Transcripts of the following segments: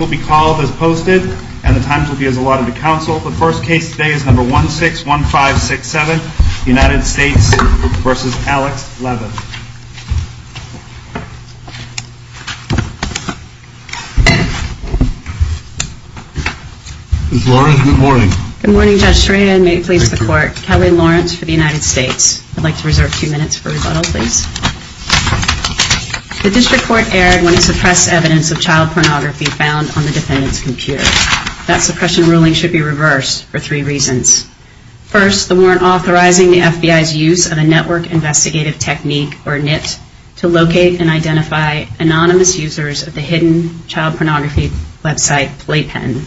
will be called as posted and the times will be as allotted to counsel. The first case today is number 161567, United States v. Alex Levin. Ms. Lawrence, good morning. Good morning, Judge Serena, and may it please the Court. Kelly Lawrence for the United States. I'd like to reserve two minutes for rebuttal, please. The District Court erred when it suppressed evidence of child pornography found on the defendant's computer. That suppression ruling should be reversed for three reasons. First, the warrant authorizing the FBI's use of a Network Investigative Technique, or NIT, to locate and identify anonymous users of the hidden child pornography website Playpen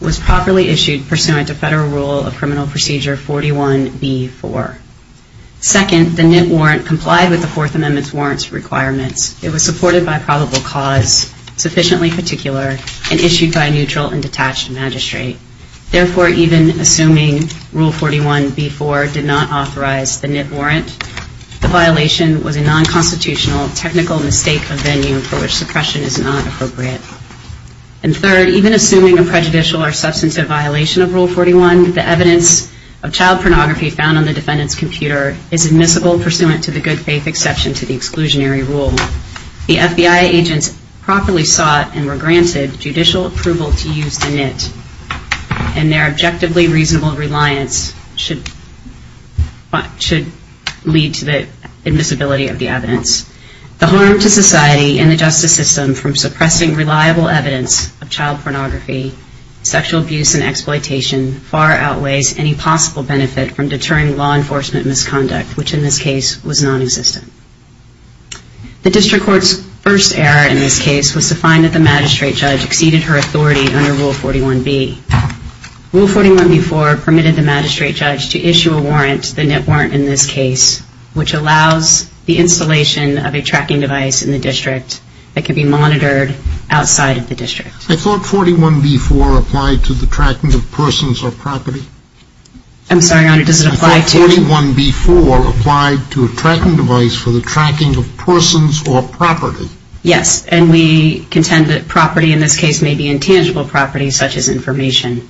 was properly issued pursuant to Federal Rule of Criminal Procedure 41b-4. Second, the NIT warrant complied with the Fourth Amendment's warrants requirements. It was supported by probable cause, sufficiently particular, and issued by a neutral and detached magistrate. Therefore, even assuming Rule 41b-4 did not authorize the NIT warrant, the violation was a non-constitutional technical mistake of venue for which suppression is not appropriate. And third, even assuming a prejudicial or substantive violation of Rule 41, the evidence of child pornography found on the defendant's computer is admissible pursuant to the good-faith exception to the exclusionary rule. The FBI agents properly sought and were granted judicial approval to use the NIT, and their objectively reasonable reliance should lead to the admissibility of the evidence. The harm to society and the justice system from suppressing reliable evidence of child pornography, sexual abuse, and exploitation far outweighs any possible benefit from deterring law enforcement misconduct, which in this case was nonexistent. The District Court's first error in this case was to find that the magistrate judge exceeded her authority under Rule 41b. Rule 41b-4 permitted the magistrate judge to issue a warrant, the NIT warrant in this case, which allows the installation of a tracking device in the district that can be monitored outside of the district. I thought 41b-4 applied to the tracking of persons or property. I'm sorry, Your Honor, does it apply to... I thought 41b-4 applied to a tracking device for the tracking of persons or property. Yes, and we contend that property in this case may be intangible property, such as information.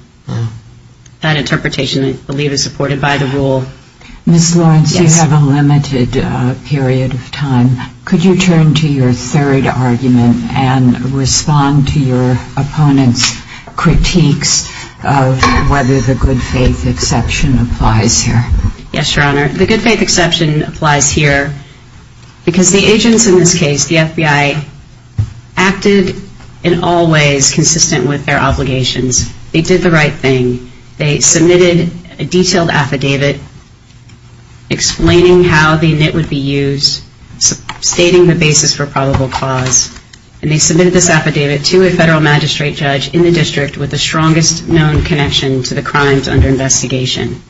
That interpretation, I believe, is supported by the rule. Ms. Lawrence, you have a limited period of time. Could you turn to your third argument and respond to your opponent's critiques of whether the good-faith exception applies here? Yes, Your Honor, the good-faith exception applies here because the agents in this case, the FBI, acted in all ways consistent with their obligations. They did the right thing. They submitted a detailed affidavit explaining how the NIT would be used, stating the basis for probable cause, and they submitted this affidavit to a federal magistrate judge in the district with the strongest known connection to the crimes under investigation.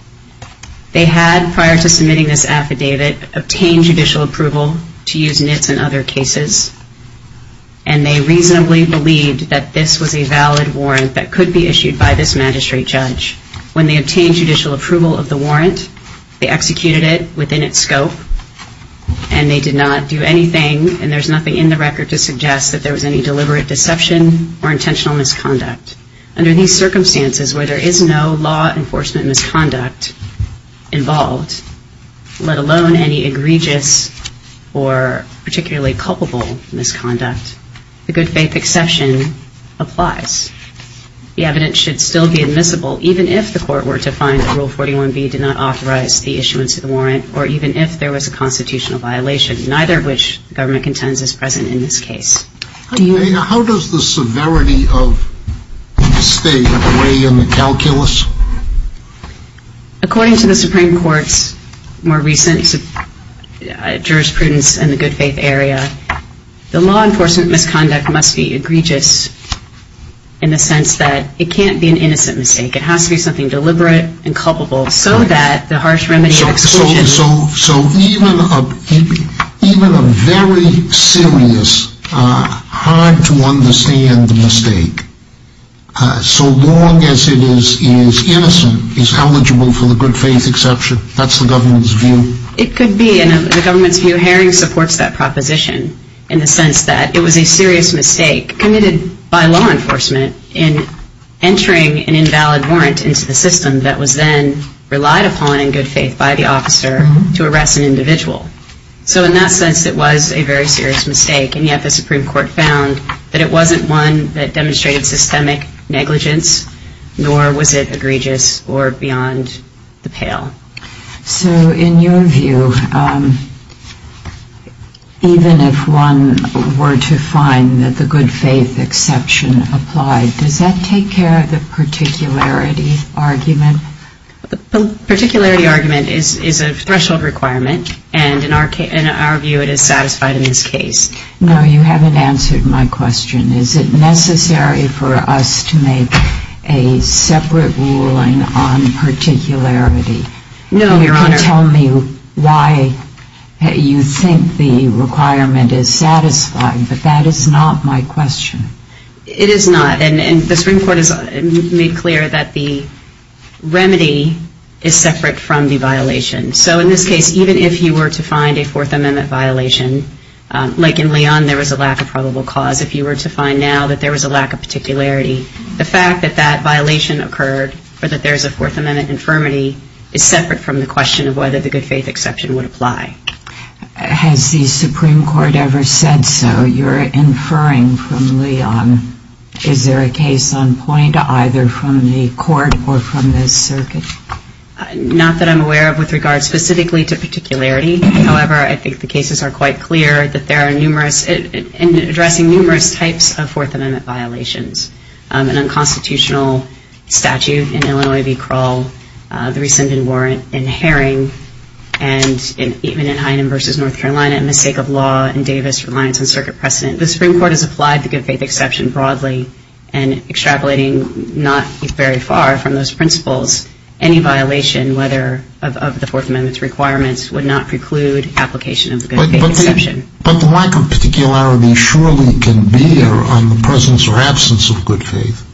They had, prior to submitting this affidavit, obtained judicial approval to use NITs in other cases, and they reasonably believed that this was a valid warrant that could be issued by this magistrate judge. When they obtained judicial approval of the warrant, they executed it within its scope, and they did not do anything, and there's nothing in the record to suggest that there was any deliberate deception or intentional misconduct. Under these circumstances, where there is no law enforcement misconduct involved, let alone any egregious or particularly culpable misconduct, the good-faith exception applies. The evidence should still be admissible even if the court were to find that Rule 41B did not authorize the issuance of the warrant or even if there was a constitutional violation, neither of which the government contends is present in this case. How does the severity of the mistake weigh in the calculus? According to the Supreme Court's more recent jurisprudence in the good-faith area, the law enforcement misconduct must be egregious in the sense that it can't be an innocent mistake. It has to be something deliberate and culpable so that the harsh remedy of exclusion... So even a very serious, hard-to-understand mistake, so long as it is innocent, is eligible for the good-faith exception? That's the government's view? It could be, and the government's view. Haring supports that proposition in the sense that it was a serious mistake committed by law enforcement in entering an invalid warrant into the system that was then relied upon in good faith by the officer to arrest an individual. So in that sense, it was a very serious mistake, and yet the Supreme Court found that it wasn't one that demonstrated systemic negligence, nor was it egregious or beyond the pale. So in your view, even if one were to find that the good-faith exception applied, does that take care of the particularity argument? The particularity argument is a threshold requirement, and in our view, it is satisfied in this case. No, you haven't answered my question. Is it necessary for us to make a separate ruling on particularity? No, Your Honor. You can tell me why you think the requirement is satisfied, but that is not my question. It is not, and the Supreme Court has made clear that the remedy is separate from the violation. So in this case, even if you were to find a Fourth Amendment violation, like in Leon, there was a lack of probable cause. If you were to find now that there was a lack of particularity, the fact that that violation occurred or that there is a Fourth Amendment infirmity is separate from the question of whether the good-faith exception would apply. Has the Supreme Court ever said so? You're inferring from Leon. Is there a case on point either from the court or from the circuit? Not that I'm aware of with regard specifically to particularity. However, I think the cases are quite clear that there are numerous and addressing numerous types of Fourth Amendment violations, an unconstitutional statute in Illinois v. Krull, the rescinded warrant in Herring, and even in Hynum v. North Carolina, a mistake of law in Davis reliance on circuit precedent. The Supreme Court has applied the good-faith exception broadly and extrapolating not very far from those principles, any violation of the Fourth Amendment's requirements would not preclude application of the good-faith exception. But the lack of particularity surely can bear on the presence or absence of good faith.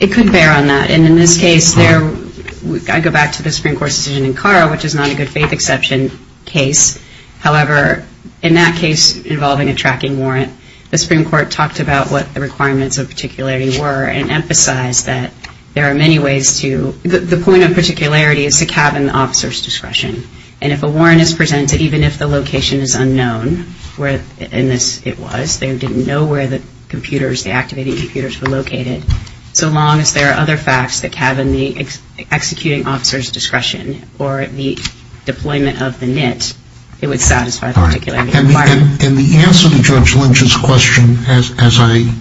It could bear on that. And in this case, I go back to the Supreme Court's decision in Carr, which is not a good-faith exception case. However, in that case involving a tracking warrant, the Supreme Court talked about what the requirements of particularity were and emphasized that there are many ways to – the point of particularity is to cabin the officer's discretion. And if a warrant is presented, even if the location is unknown, where in this it was, they didn't know where the computers, the activating computers were located, so long as there are other facts that cabin the executing officer's discretion or the deployment of the NIT, it would satisfy the particularity requirement. And the answer to Judge Lynch's question, as I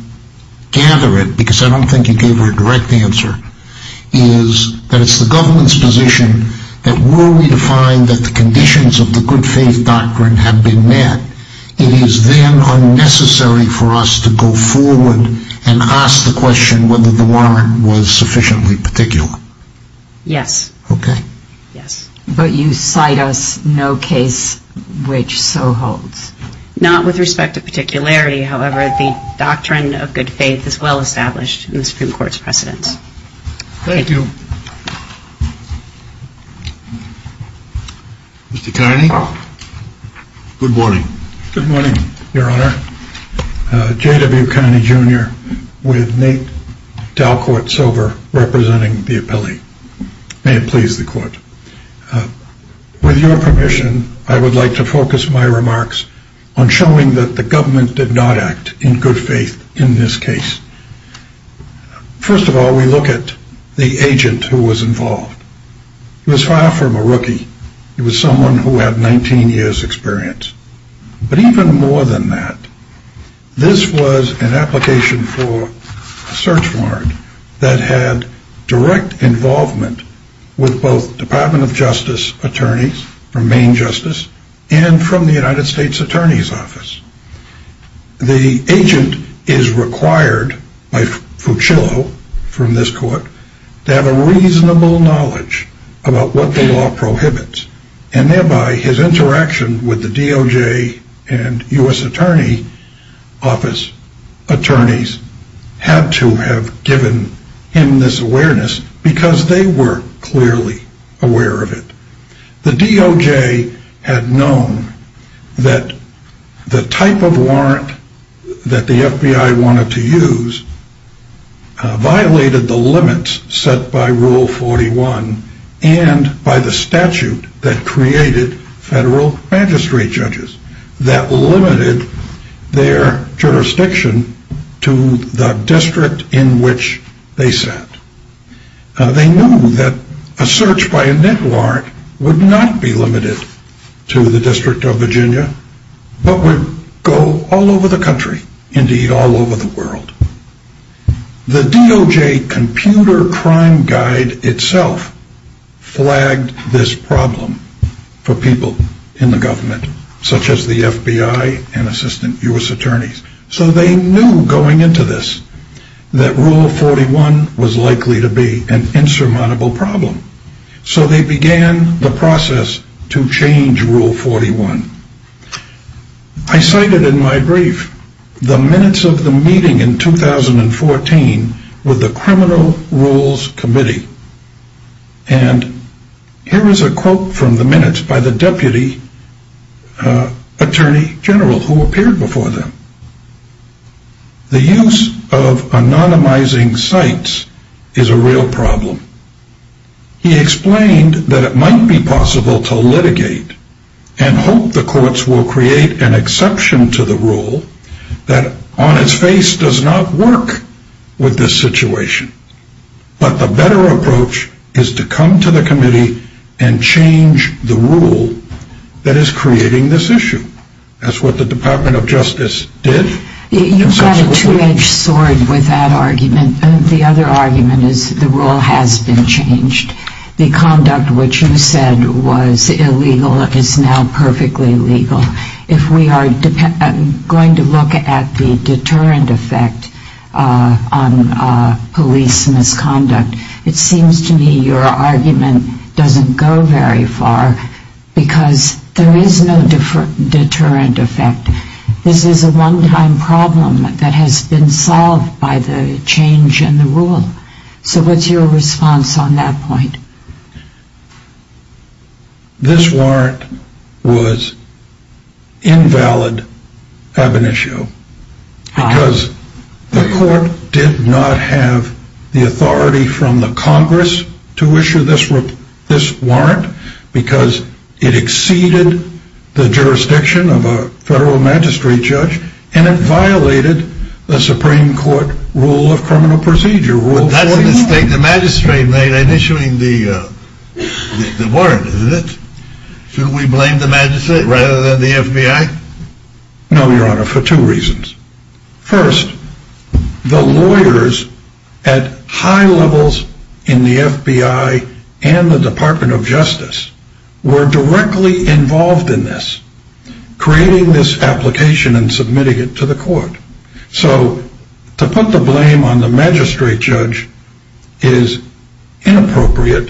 gather it, because I don't think you gave her a direct answer, is that it's the government's position that were we to find that the conditions of the good-faith doctrine have been met, it is then unnecessary for us to go forward and ask the question whether the warrant was sufficiently particular. Yes. Okay. Yes. But you cite us no case which so holds. Not with respect to particularity. However, the doctrine of good-faith is well-established in the Supreme Court's precedents. Thank you. Mr. Kearney? Good morning. Good morning, Your Honor. J.W. Kearney, Jr., with Nate Dalcourt-Silver representing the appellee. May it please the Court. With your permission, I would like to focus my remarks on showing that the government did not act in good faith in this case. First of all, we look at the agent who was involved. He was far from a rookie. He was someone who had 19 years' experience. But even more than that, this was an application for search warrant that had direct involvement with both Department of Justice attorneys from Maine Justice and from the United States Attorney's Office. The agent is required by Fucillo from this court to have a reasonable knowledge about what the law prohibits and thereby his interaction with the DOJ and U.S. Attorney Office attorneys had to have given him this awareness because they were clearly aware of it. The DOJ had known that the type of warrant that the FBI wanted to use violated the limits set by Rule 41 and by the statute that created federal magistrate judges that limited their jurisdiction to the district in which they sat. They knew that a search by a net warrant would not be limited to the District of Virginia, but would go all over the country, indeed all over the world. The DOJ Computer Crime Guide itself flagged this problem for people in the government, such as the FBI and Assistant U.S. Attorneys. So they knew going into this that Rule 41 was likely to be an insurmountable problem. So they began the process to change Rule 41. I cited in my brief the minutes of the meeting in 2014 with the Criminal Rules Committee. And here is a quote from the minutes by the Deputy Attorney General who appeared before them. The use of anonymizing sites is a real problem. He explained that it might be possible to litigate and hope the courts will create an exception to the rule that on its face does not work with this situation. But the better approach is to come to the committee and change the rule that is creating this issue. That's what the Department of Justice did. You've got a two-edged sword with that argument. The other argument is the rule has been changed. The conduct which you said was illegal is now perfectly legal. If we are going to look at the deterrent effect on police misconduct, it seems to me your argument doesn't go very far because there is no deterrent effect. This is a one-time problem that has been solved by the change in the rule. So what's your response on that point? This warrant was invalid ab initio. Because the court did not have the authority from the Congress to issue this warrant because it exceeded the jurisdiction of a federal magistrate judge and it violated the Supreme Court rule of criminal procedure. That's a mistake the magistrate made in issuing the warrant, isn't it? Should we blame the magistrate rather than the FBI? No, your honor, for two reasons. First, the lawyers at high levels in the FBI and the Department of Justice were directly involved in this, creating this application and submitting it to the court. So to put the blame on the magistrate judge is inappropriate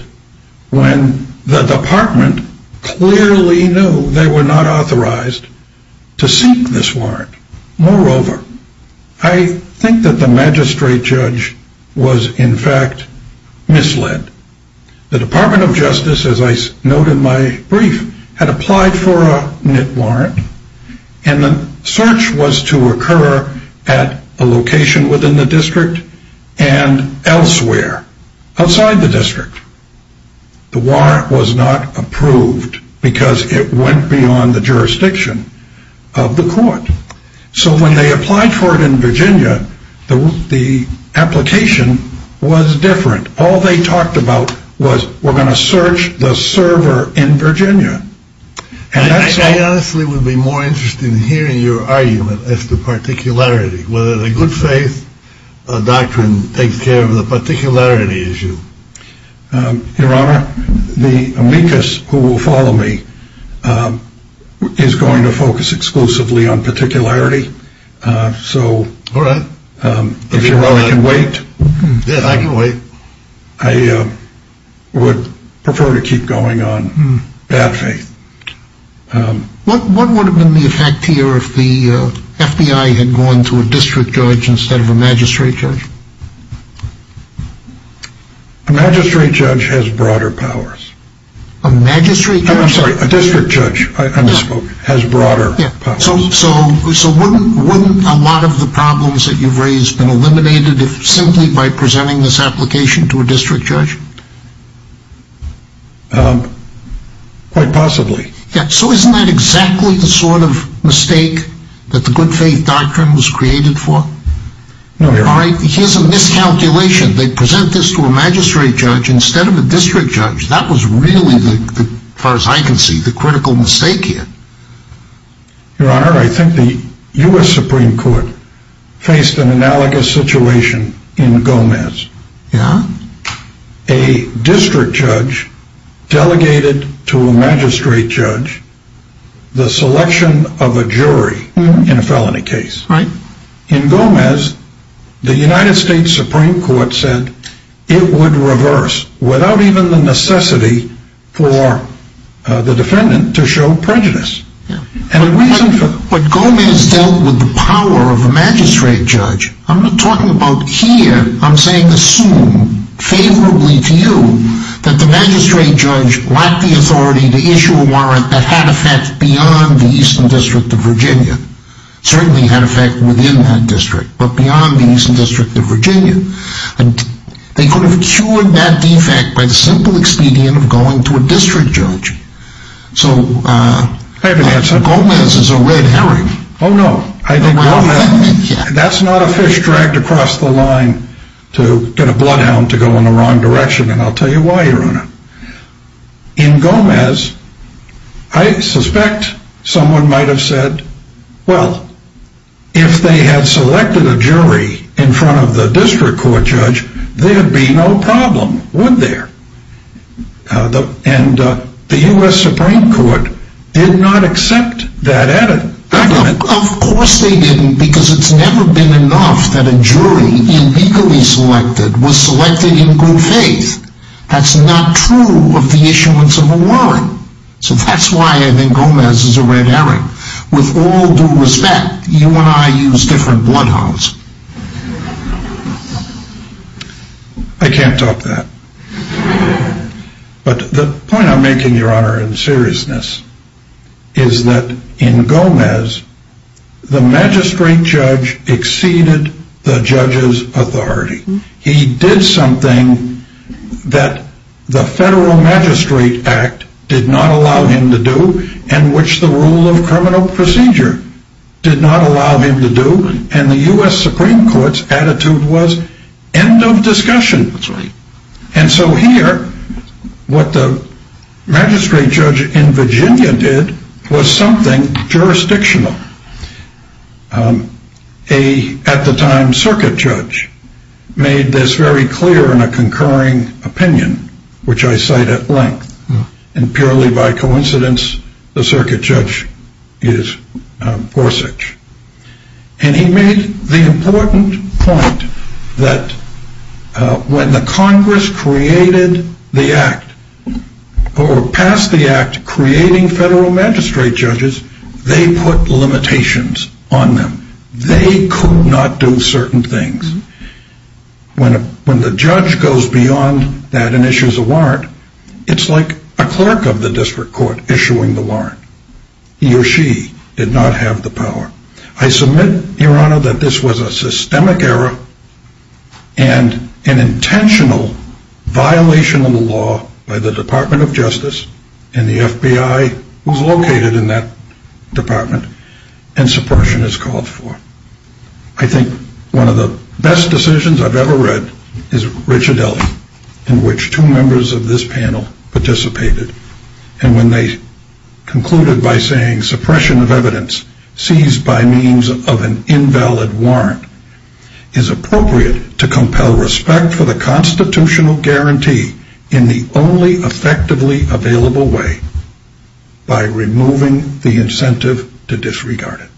when the department clearly knew they were not authorized to seek this warrant. Moreover, I think that the magistrate judge was in fact misled. The Department of Justice, as I note in my brief, had applied for a warrant and the search was to occur at a location within the district and elsewhere outside the district. The warrant was not approved because it went beyond the jurisdiction of the court. So when they applied for it in Virginia, the application was different. All they talked about was we're going to search the server in Virginia. I honestly would be more interested in hearing your argument as to particularity. Whether the good faith doctrine takes care of the particularity issue. Your honor, the amicus who will follow me is going to focus exclusively on particularity. So if your honor can wait, I would prefer to keep going on bad faith. What would have been the effect here if the FBI had gone to a district judge instead of a magistrate judge? A magistrate judge has broader powers. A magistrate judge? I'm sorry, a district judge, I misspoke, has broader powers. So wouldn't a lot of the problems that you've raised been eliminated simply by presenting this application to a district judge? Quite possibly. So isn't that exactly the sort of mistake that the good faith doctrine was created for? No, your honor. Here's a miscalculation. They present this to a magistrate judge instead of a district judge. That was really, as far as I can see, the critical mistake here. Your honor, I think the U.S. Supreme Court faced an analogous situation in Gomez. A district judge delegated to a magistrate judge the selection of a jury in a felony case. In Gomez, the United States Supreme Court said it would reverse without even the necessity for the defendant to show prejudice. But Gomez dealt with the power of a magistrate judge. I'm not talking about here, I'm saying assume favorably to you that the magistrate judge lacked the authority to issue a warrant that had effect beyond the Eastern District of Virginia. Certainly had effect within that district, but beyond the Eastern District of Virginia. They could have cured that defect by the simple expedient of going to a district judge. So Gomez is a red herring. Oh no, that's not a fish dragged across the line to get a bloodhound to go in the wrong direction, and I'll tell you why, your honor. In Gomez, I suspect someone might have said, well, if they had selected a jury in front of the district court judge, there'd be no problem, would there? And the U.S. Supreme Court did not accept that evidence. Of course they didn't, because it's never been enough that a jury, illegally selected, was selected in good faith. That's not true of the issuance of a warrant. So that's why I think Gomez is a red herring. With all due respect, you and I use different bloodhounds. I can't talk to that. But the point I'm making, your honor, in seriousness, is that in Gomez, the magistrate judge exceeded the judge's authority. He did something that the Federal Magistrate Act did not allow him to do, and which the rule of criminal procedure did not allow him to do, and the U.S. Supreme Court's attitude was, end of discussion. That's right. And so here, what the magistrate judge in Virginia did was something jurisdictional. At the time, a circuit judge made this very clear in a concurring opinion, which I cite at length, and purely by coincidence, the circuit judge is Gorsuch. And he made the important point that when the Congress created the Act, or passed the Act creating Federal Magistrate judges, they put limitations on them. They could not do certain things. When the judge goes beyond that and issues a warrant, it's like a clerk of the district court issuing the warrant. He or she did not have the power. I submit, your honor, that this was a systemic error and an intentional violation of the law by the Department of Justice and the FBI, who's located in that department, and suppression is called for. I think one of the best decisions I've ever read is Ricciardelli, in which two members of this panel participated. And when they concluded by saying suppression of evidence seized by means of an invalid warrant is appropriate to compel respect for the constitutional guarantee in the only effectively available way, by removing the incentive to disregard it.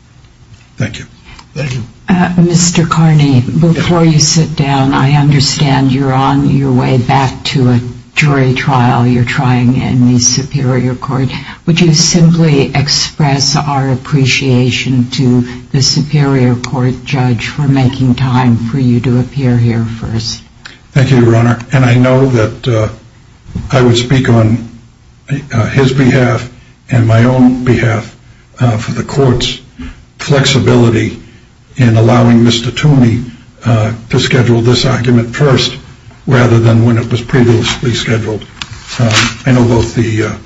Thank you. Thank you. Mr. Carney, before you sit down, I understand you're on your way back to a jury trial while you're trying in the superior court. Would you simply express our appreciation to the superior court judge for making time for you to appear here first? Thank you, your honor. And I know that I would speak on his behalf and my own behalf for the court's flexibility in allowing Mr. Toomey to schedule this argument first rather than when it was previously scheduled. I know both the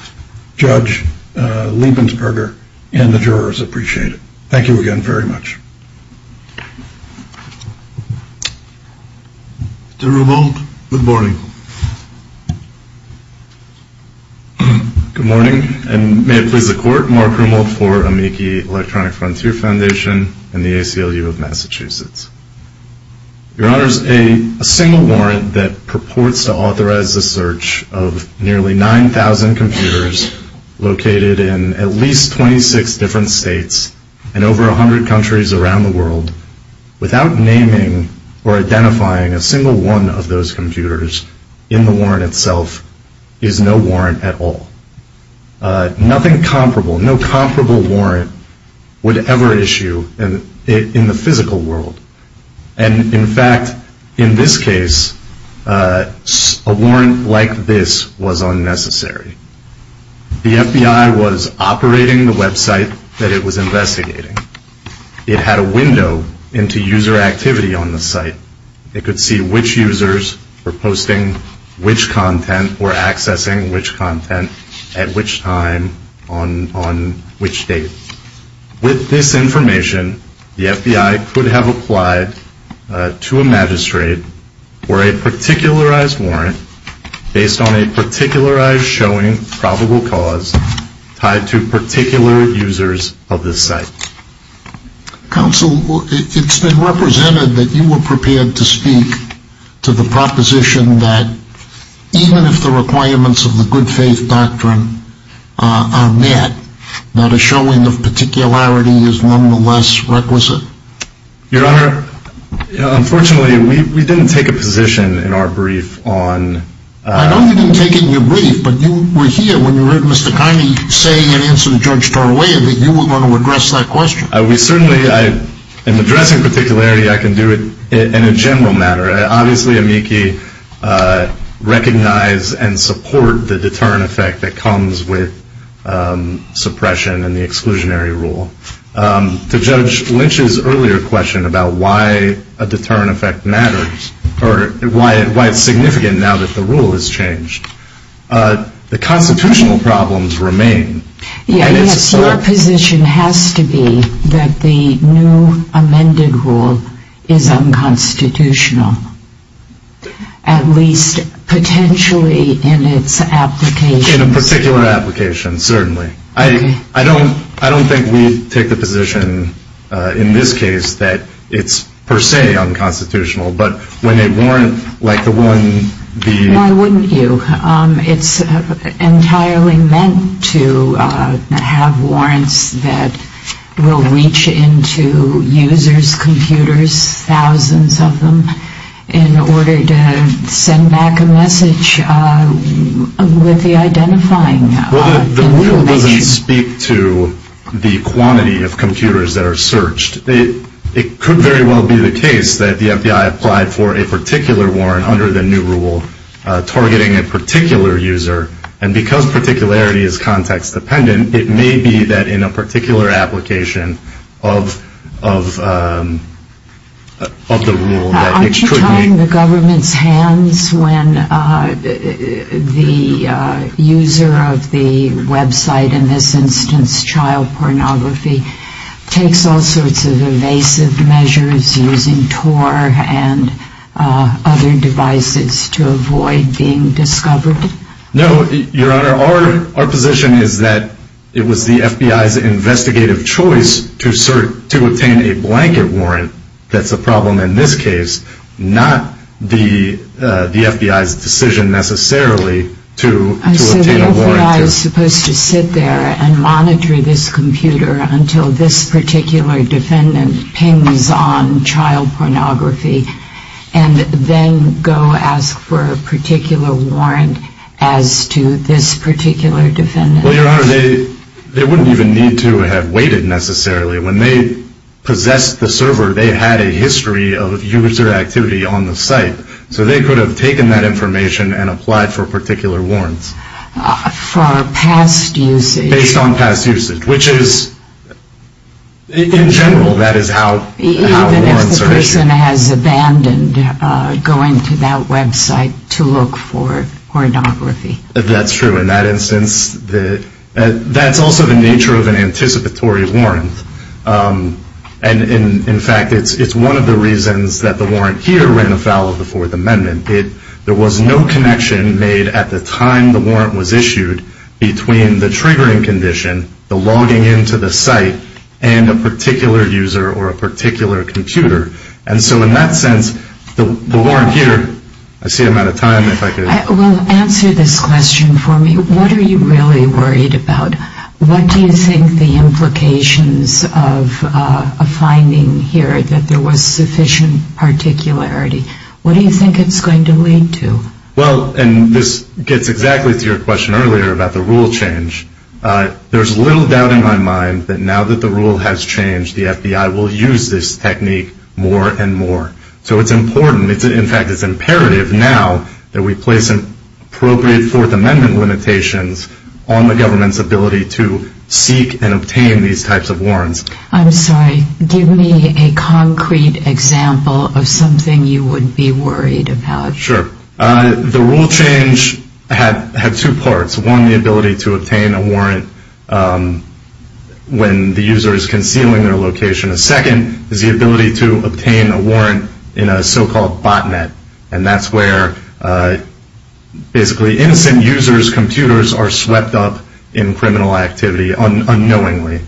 judge, Liebensberger, and the jurors appreciate it. Thank you again very much. Mr. Rummel, good morning. Good morning. And may it please the court, Mark Rummel for Amici Electronic Frontier Foundation and the ACLU of Massachusetts. Your honors, a single warrant that purports to authorize the search of nearly 9,000 computers located in at least 26 different states and over 100 countries around the world, without naming or identifying a single one of those computers in the warrant itself, is no warrant at all. Nothing comparable, no comparable warrant would ever issue in the physical world. And, in fact, in this case, a warrant like this was unnecessary. The FBI was operating the website that it was investigating. It had a window into user activity on the site. It could see which users were posting which content or accessing which content at which time on which date. With this information, the FBI could have applied to a magistrate for a particularized warrant based on a particularized showing probable cause tied to particular users of this site. Counsel, it's been represented that you were prepared to speak to the proposition that, even if the requirements of the good faith doctrine are met, not a showing of particularity is nonetheless requisite. Your honor, unfortunately, we didn't take a position in our brief on I know you didn't take it in your brief, but you were here when you heard Mr. Kiney say that you were going to address that question. We certainly, in addressing particularity, I can do it in a general matter. Obviously, amici recognize and support the deterrent effect that comes with suppression and the exclusionary rule. To Judge Lynch's earlier question about why a deterrent effect matters, or why it's significant now that the rule has changed, the constitutional problems remain. Yes, your position has to be that the new amended rule is unconstitutional, at least potentially in its application. In a particular application, certainly. I don't think we take the position in this case that it's per se unconstitutional, but when a warrant like the one the Why wouldn't you? It's entirely meant to have warrants that will reach into users' computers, thousands of them, in order to send back a message with the identifying. Well, the rule doesn't speak to the quantity of computers that are searched. It could very well be the case that the FBI applied for a particular warrant under the new rule, targeting a particular user, and because particularity is context-dependent, it may be that in a particular application of the rule that it could be. Aren't you tying the government's hands when the user of the website, in this instance child pornography, takes all sorts of evasive measures using Tor and other devices to avoid being discovered? No, your Honor, our position is that it was the FBI's investigative choice to obtain a blanket warrant. That's a problem in this case, not the FBI's decision necessarily to obtain a warrant. The FBI is supposed to sit there and monitor this computer until this particular defendant pings on child pornography and then go ask for a particular warrant as to this particular defendant. Well, your Honor, they wouldn't even need to have waited necessarily. When they possessed the server, they had a history of user activity on the site, so they could have taken that information and applied for particular warrants. For past usage. Based on past usage, which is, in general, that is how warrants are issued. Even if the person has abandoned going to that website to look for pornography. That's true. In that instance, that's also the nature of an anticipatory warrant. In fact, it's one of the reasons that the warrant here ran afoul of the Fourth Amendment. There was no connection made at the time the warrant was issued between the triggering condition, the logging into the site, and a particular user or a particular computer. And so in that sense, the warrant here, I see I'm out of time. Well, answer this question for me. What are you really worried about? What do you think the implications of a finding here that there was sufficient particularity? What do you think it's going to lead to? Well, and this gets exactly to your question earlier about the rule change. There's little doubt in my mind that now that the rule has changed, the FBI will use this technique more and more. So it's important. In fact, it's imperative now that we place appropriate Fourth Amendment limitations on the government's ability to seek and obtain these types of warrants. I'm sorry. Give me a concrete example of something you would be worried about. Sure. The rule change had two parts. One, the ability to obtain a warrant when the user is concealing their location. A second is the ability to obtain a warrant in a so-called botnet. And that's where basically innocent users' computers are swept up in criminal activity unknowingly.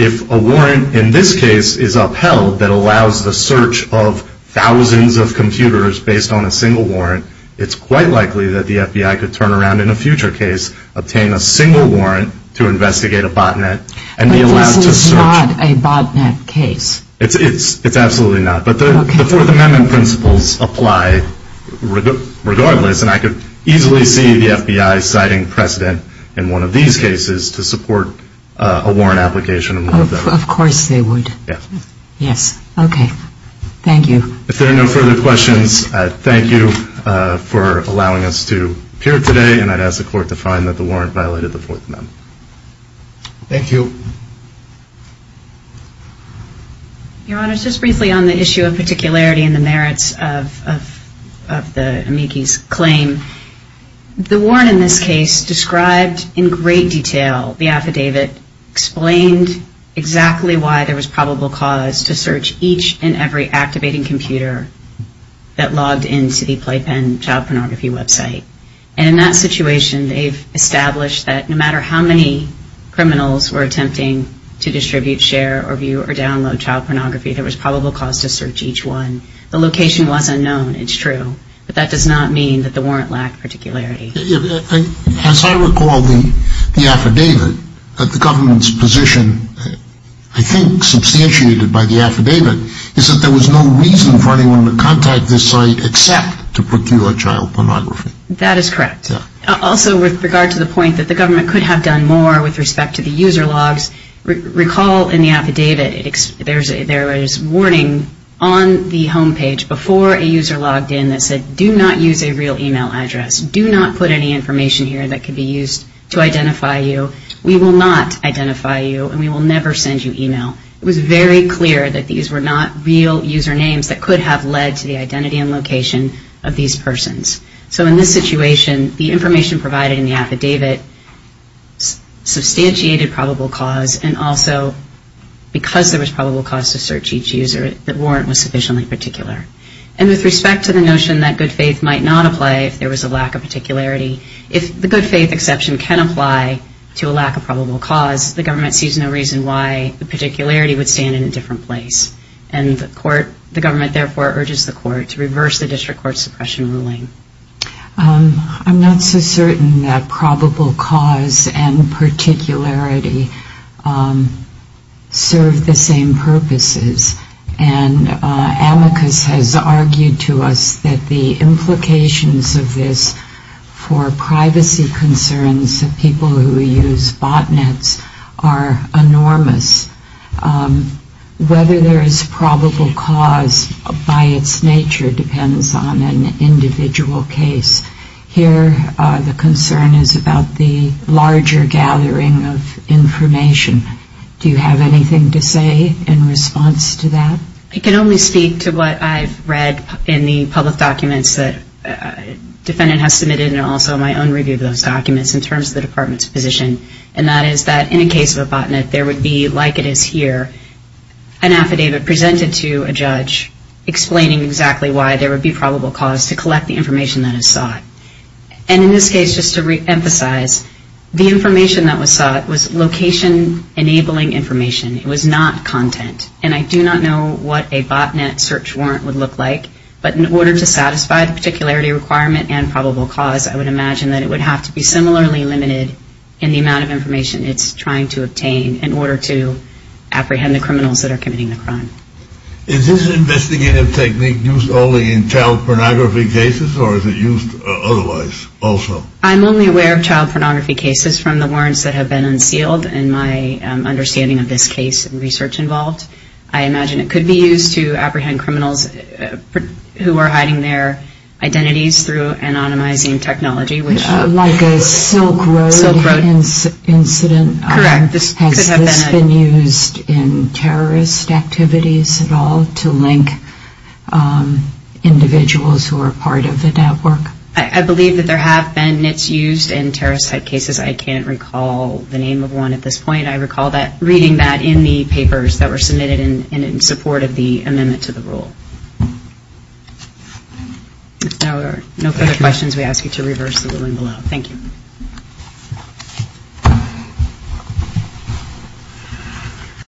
If a warrant in this case is upheld that allows the search of thousands of computers based on a single warrant, it's quite likely that the FBI could turn around in a future case, obtain a single warrant to investigate a botnet and be allowed to search. But this is not a botnet case. It's absolutely not. But the Fourth Amendment principles apply regardless, and I could easily see the FBI citing precedent in one of these cases to support a warrant application in one of them. Of course they would. Yes. Yes. Okay. Thank you. If there are no further questions, thank you for allowing us to appear today, and I'd ask the Court to find that the warrant violated the Fourth Amendment. Thank you. Your Honor, just briefly on the issue of particularity and the merits of the amici's claim, the warrant in this case described in great detail the affidavit, explained exactly why there was probable cause to search each and every activating computer that logged into the Playpen child pornography website. And in that situation, they've established that no matter how many criminals were attempting to distribute, share, or view or download child pornography, there was probable cause to search each one. The location was unknown. It's true. But that does not mean that the warrant lacked particularity. As I recall the affidavit, the government's position, I think substantiated by the affidavit, is that there was no reason for anyone to contact this site except to procure child pornography. That is correct. Also, with regard to the point that the government could have done more with respect to the user logs, recall in the affidavit there was warning on the home page before a user logged in that said, do not use a real e-mail address. Do not put any information here that could be used to identify you. We will not identify you, and we will never send you e-mail. It was very clear that these were not real user names that could have led to the identity and location of these persons. So in this situation, the information provided in the affidavit substantiated probable cause and also because there was probable cause to search each user, the warrant was sufficiently particular. And with respect to the notion that good faith might not apply if there was a lack of particularity, if the good faith exception can apply to a lack of probable cause, the government sees no reason why the particularity would stand in a different place. And the court, the government therefore urges the court to reverse the district court suppression ruling. I'm not so certain that probable cause and particularity serve the same purposes. And amicus has argued to us that the implications of this for privacy concerns of people who use botnets are enormous. Whether there is probable cause by its nature depends on an individual case. Here the concern is about the larger gathering of information. Do you have anything to say in response to that? I can only speak to what I've read in the public documents that defendant has submitted and also my own review of those documents in terms of the Department's position. And that is that in a case of a botnet, there would be, like it is here, an affidavit presented to a judge explaining exactly why there would be probable cause to collect the information that is sought. And in this case, just to reemphasize, the information that was sought was location-enabling information. It was not content. And I do not know what a botnet search warrant would look like. But in order to satisfy the particularity requirement and probable cause, I would imagine that it would have to be similarly limited in the amount of information it's trying to obtain in order to apprehend the criminals that are committing the crime. Is this investigative technique used only in child pornography cases or is it used otherwise also? I'm only aware of child pornography cases from the warrants that have been unsealed and my understanding of this case and research involved. I imagine it could be used to apprehend criminals who are hiding their identities through anonymizing technology. Like a Silk Road incident. Correct. Has this been used in terrorist activities at all to link individuals who are part of the network? I believe that there have been NITs used in terrorist-type cases. I can't recall the name of one at this point. I recall reading that in the papers that were submitted in support of the amendment to the rule. If there are no further questions, we ask you to reverse the ruling below. Thank you.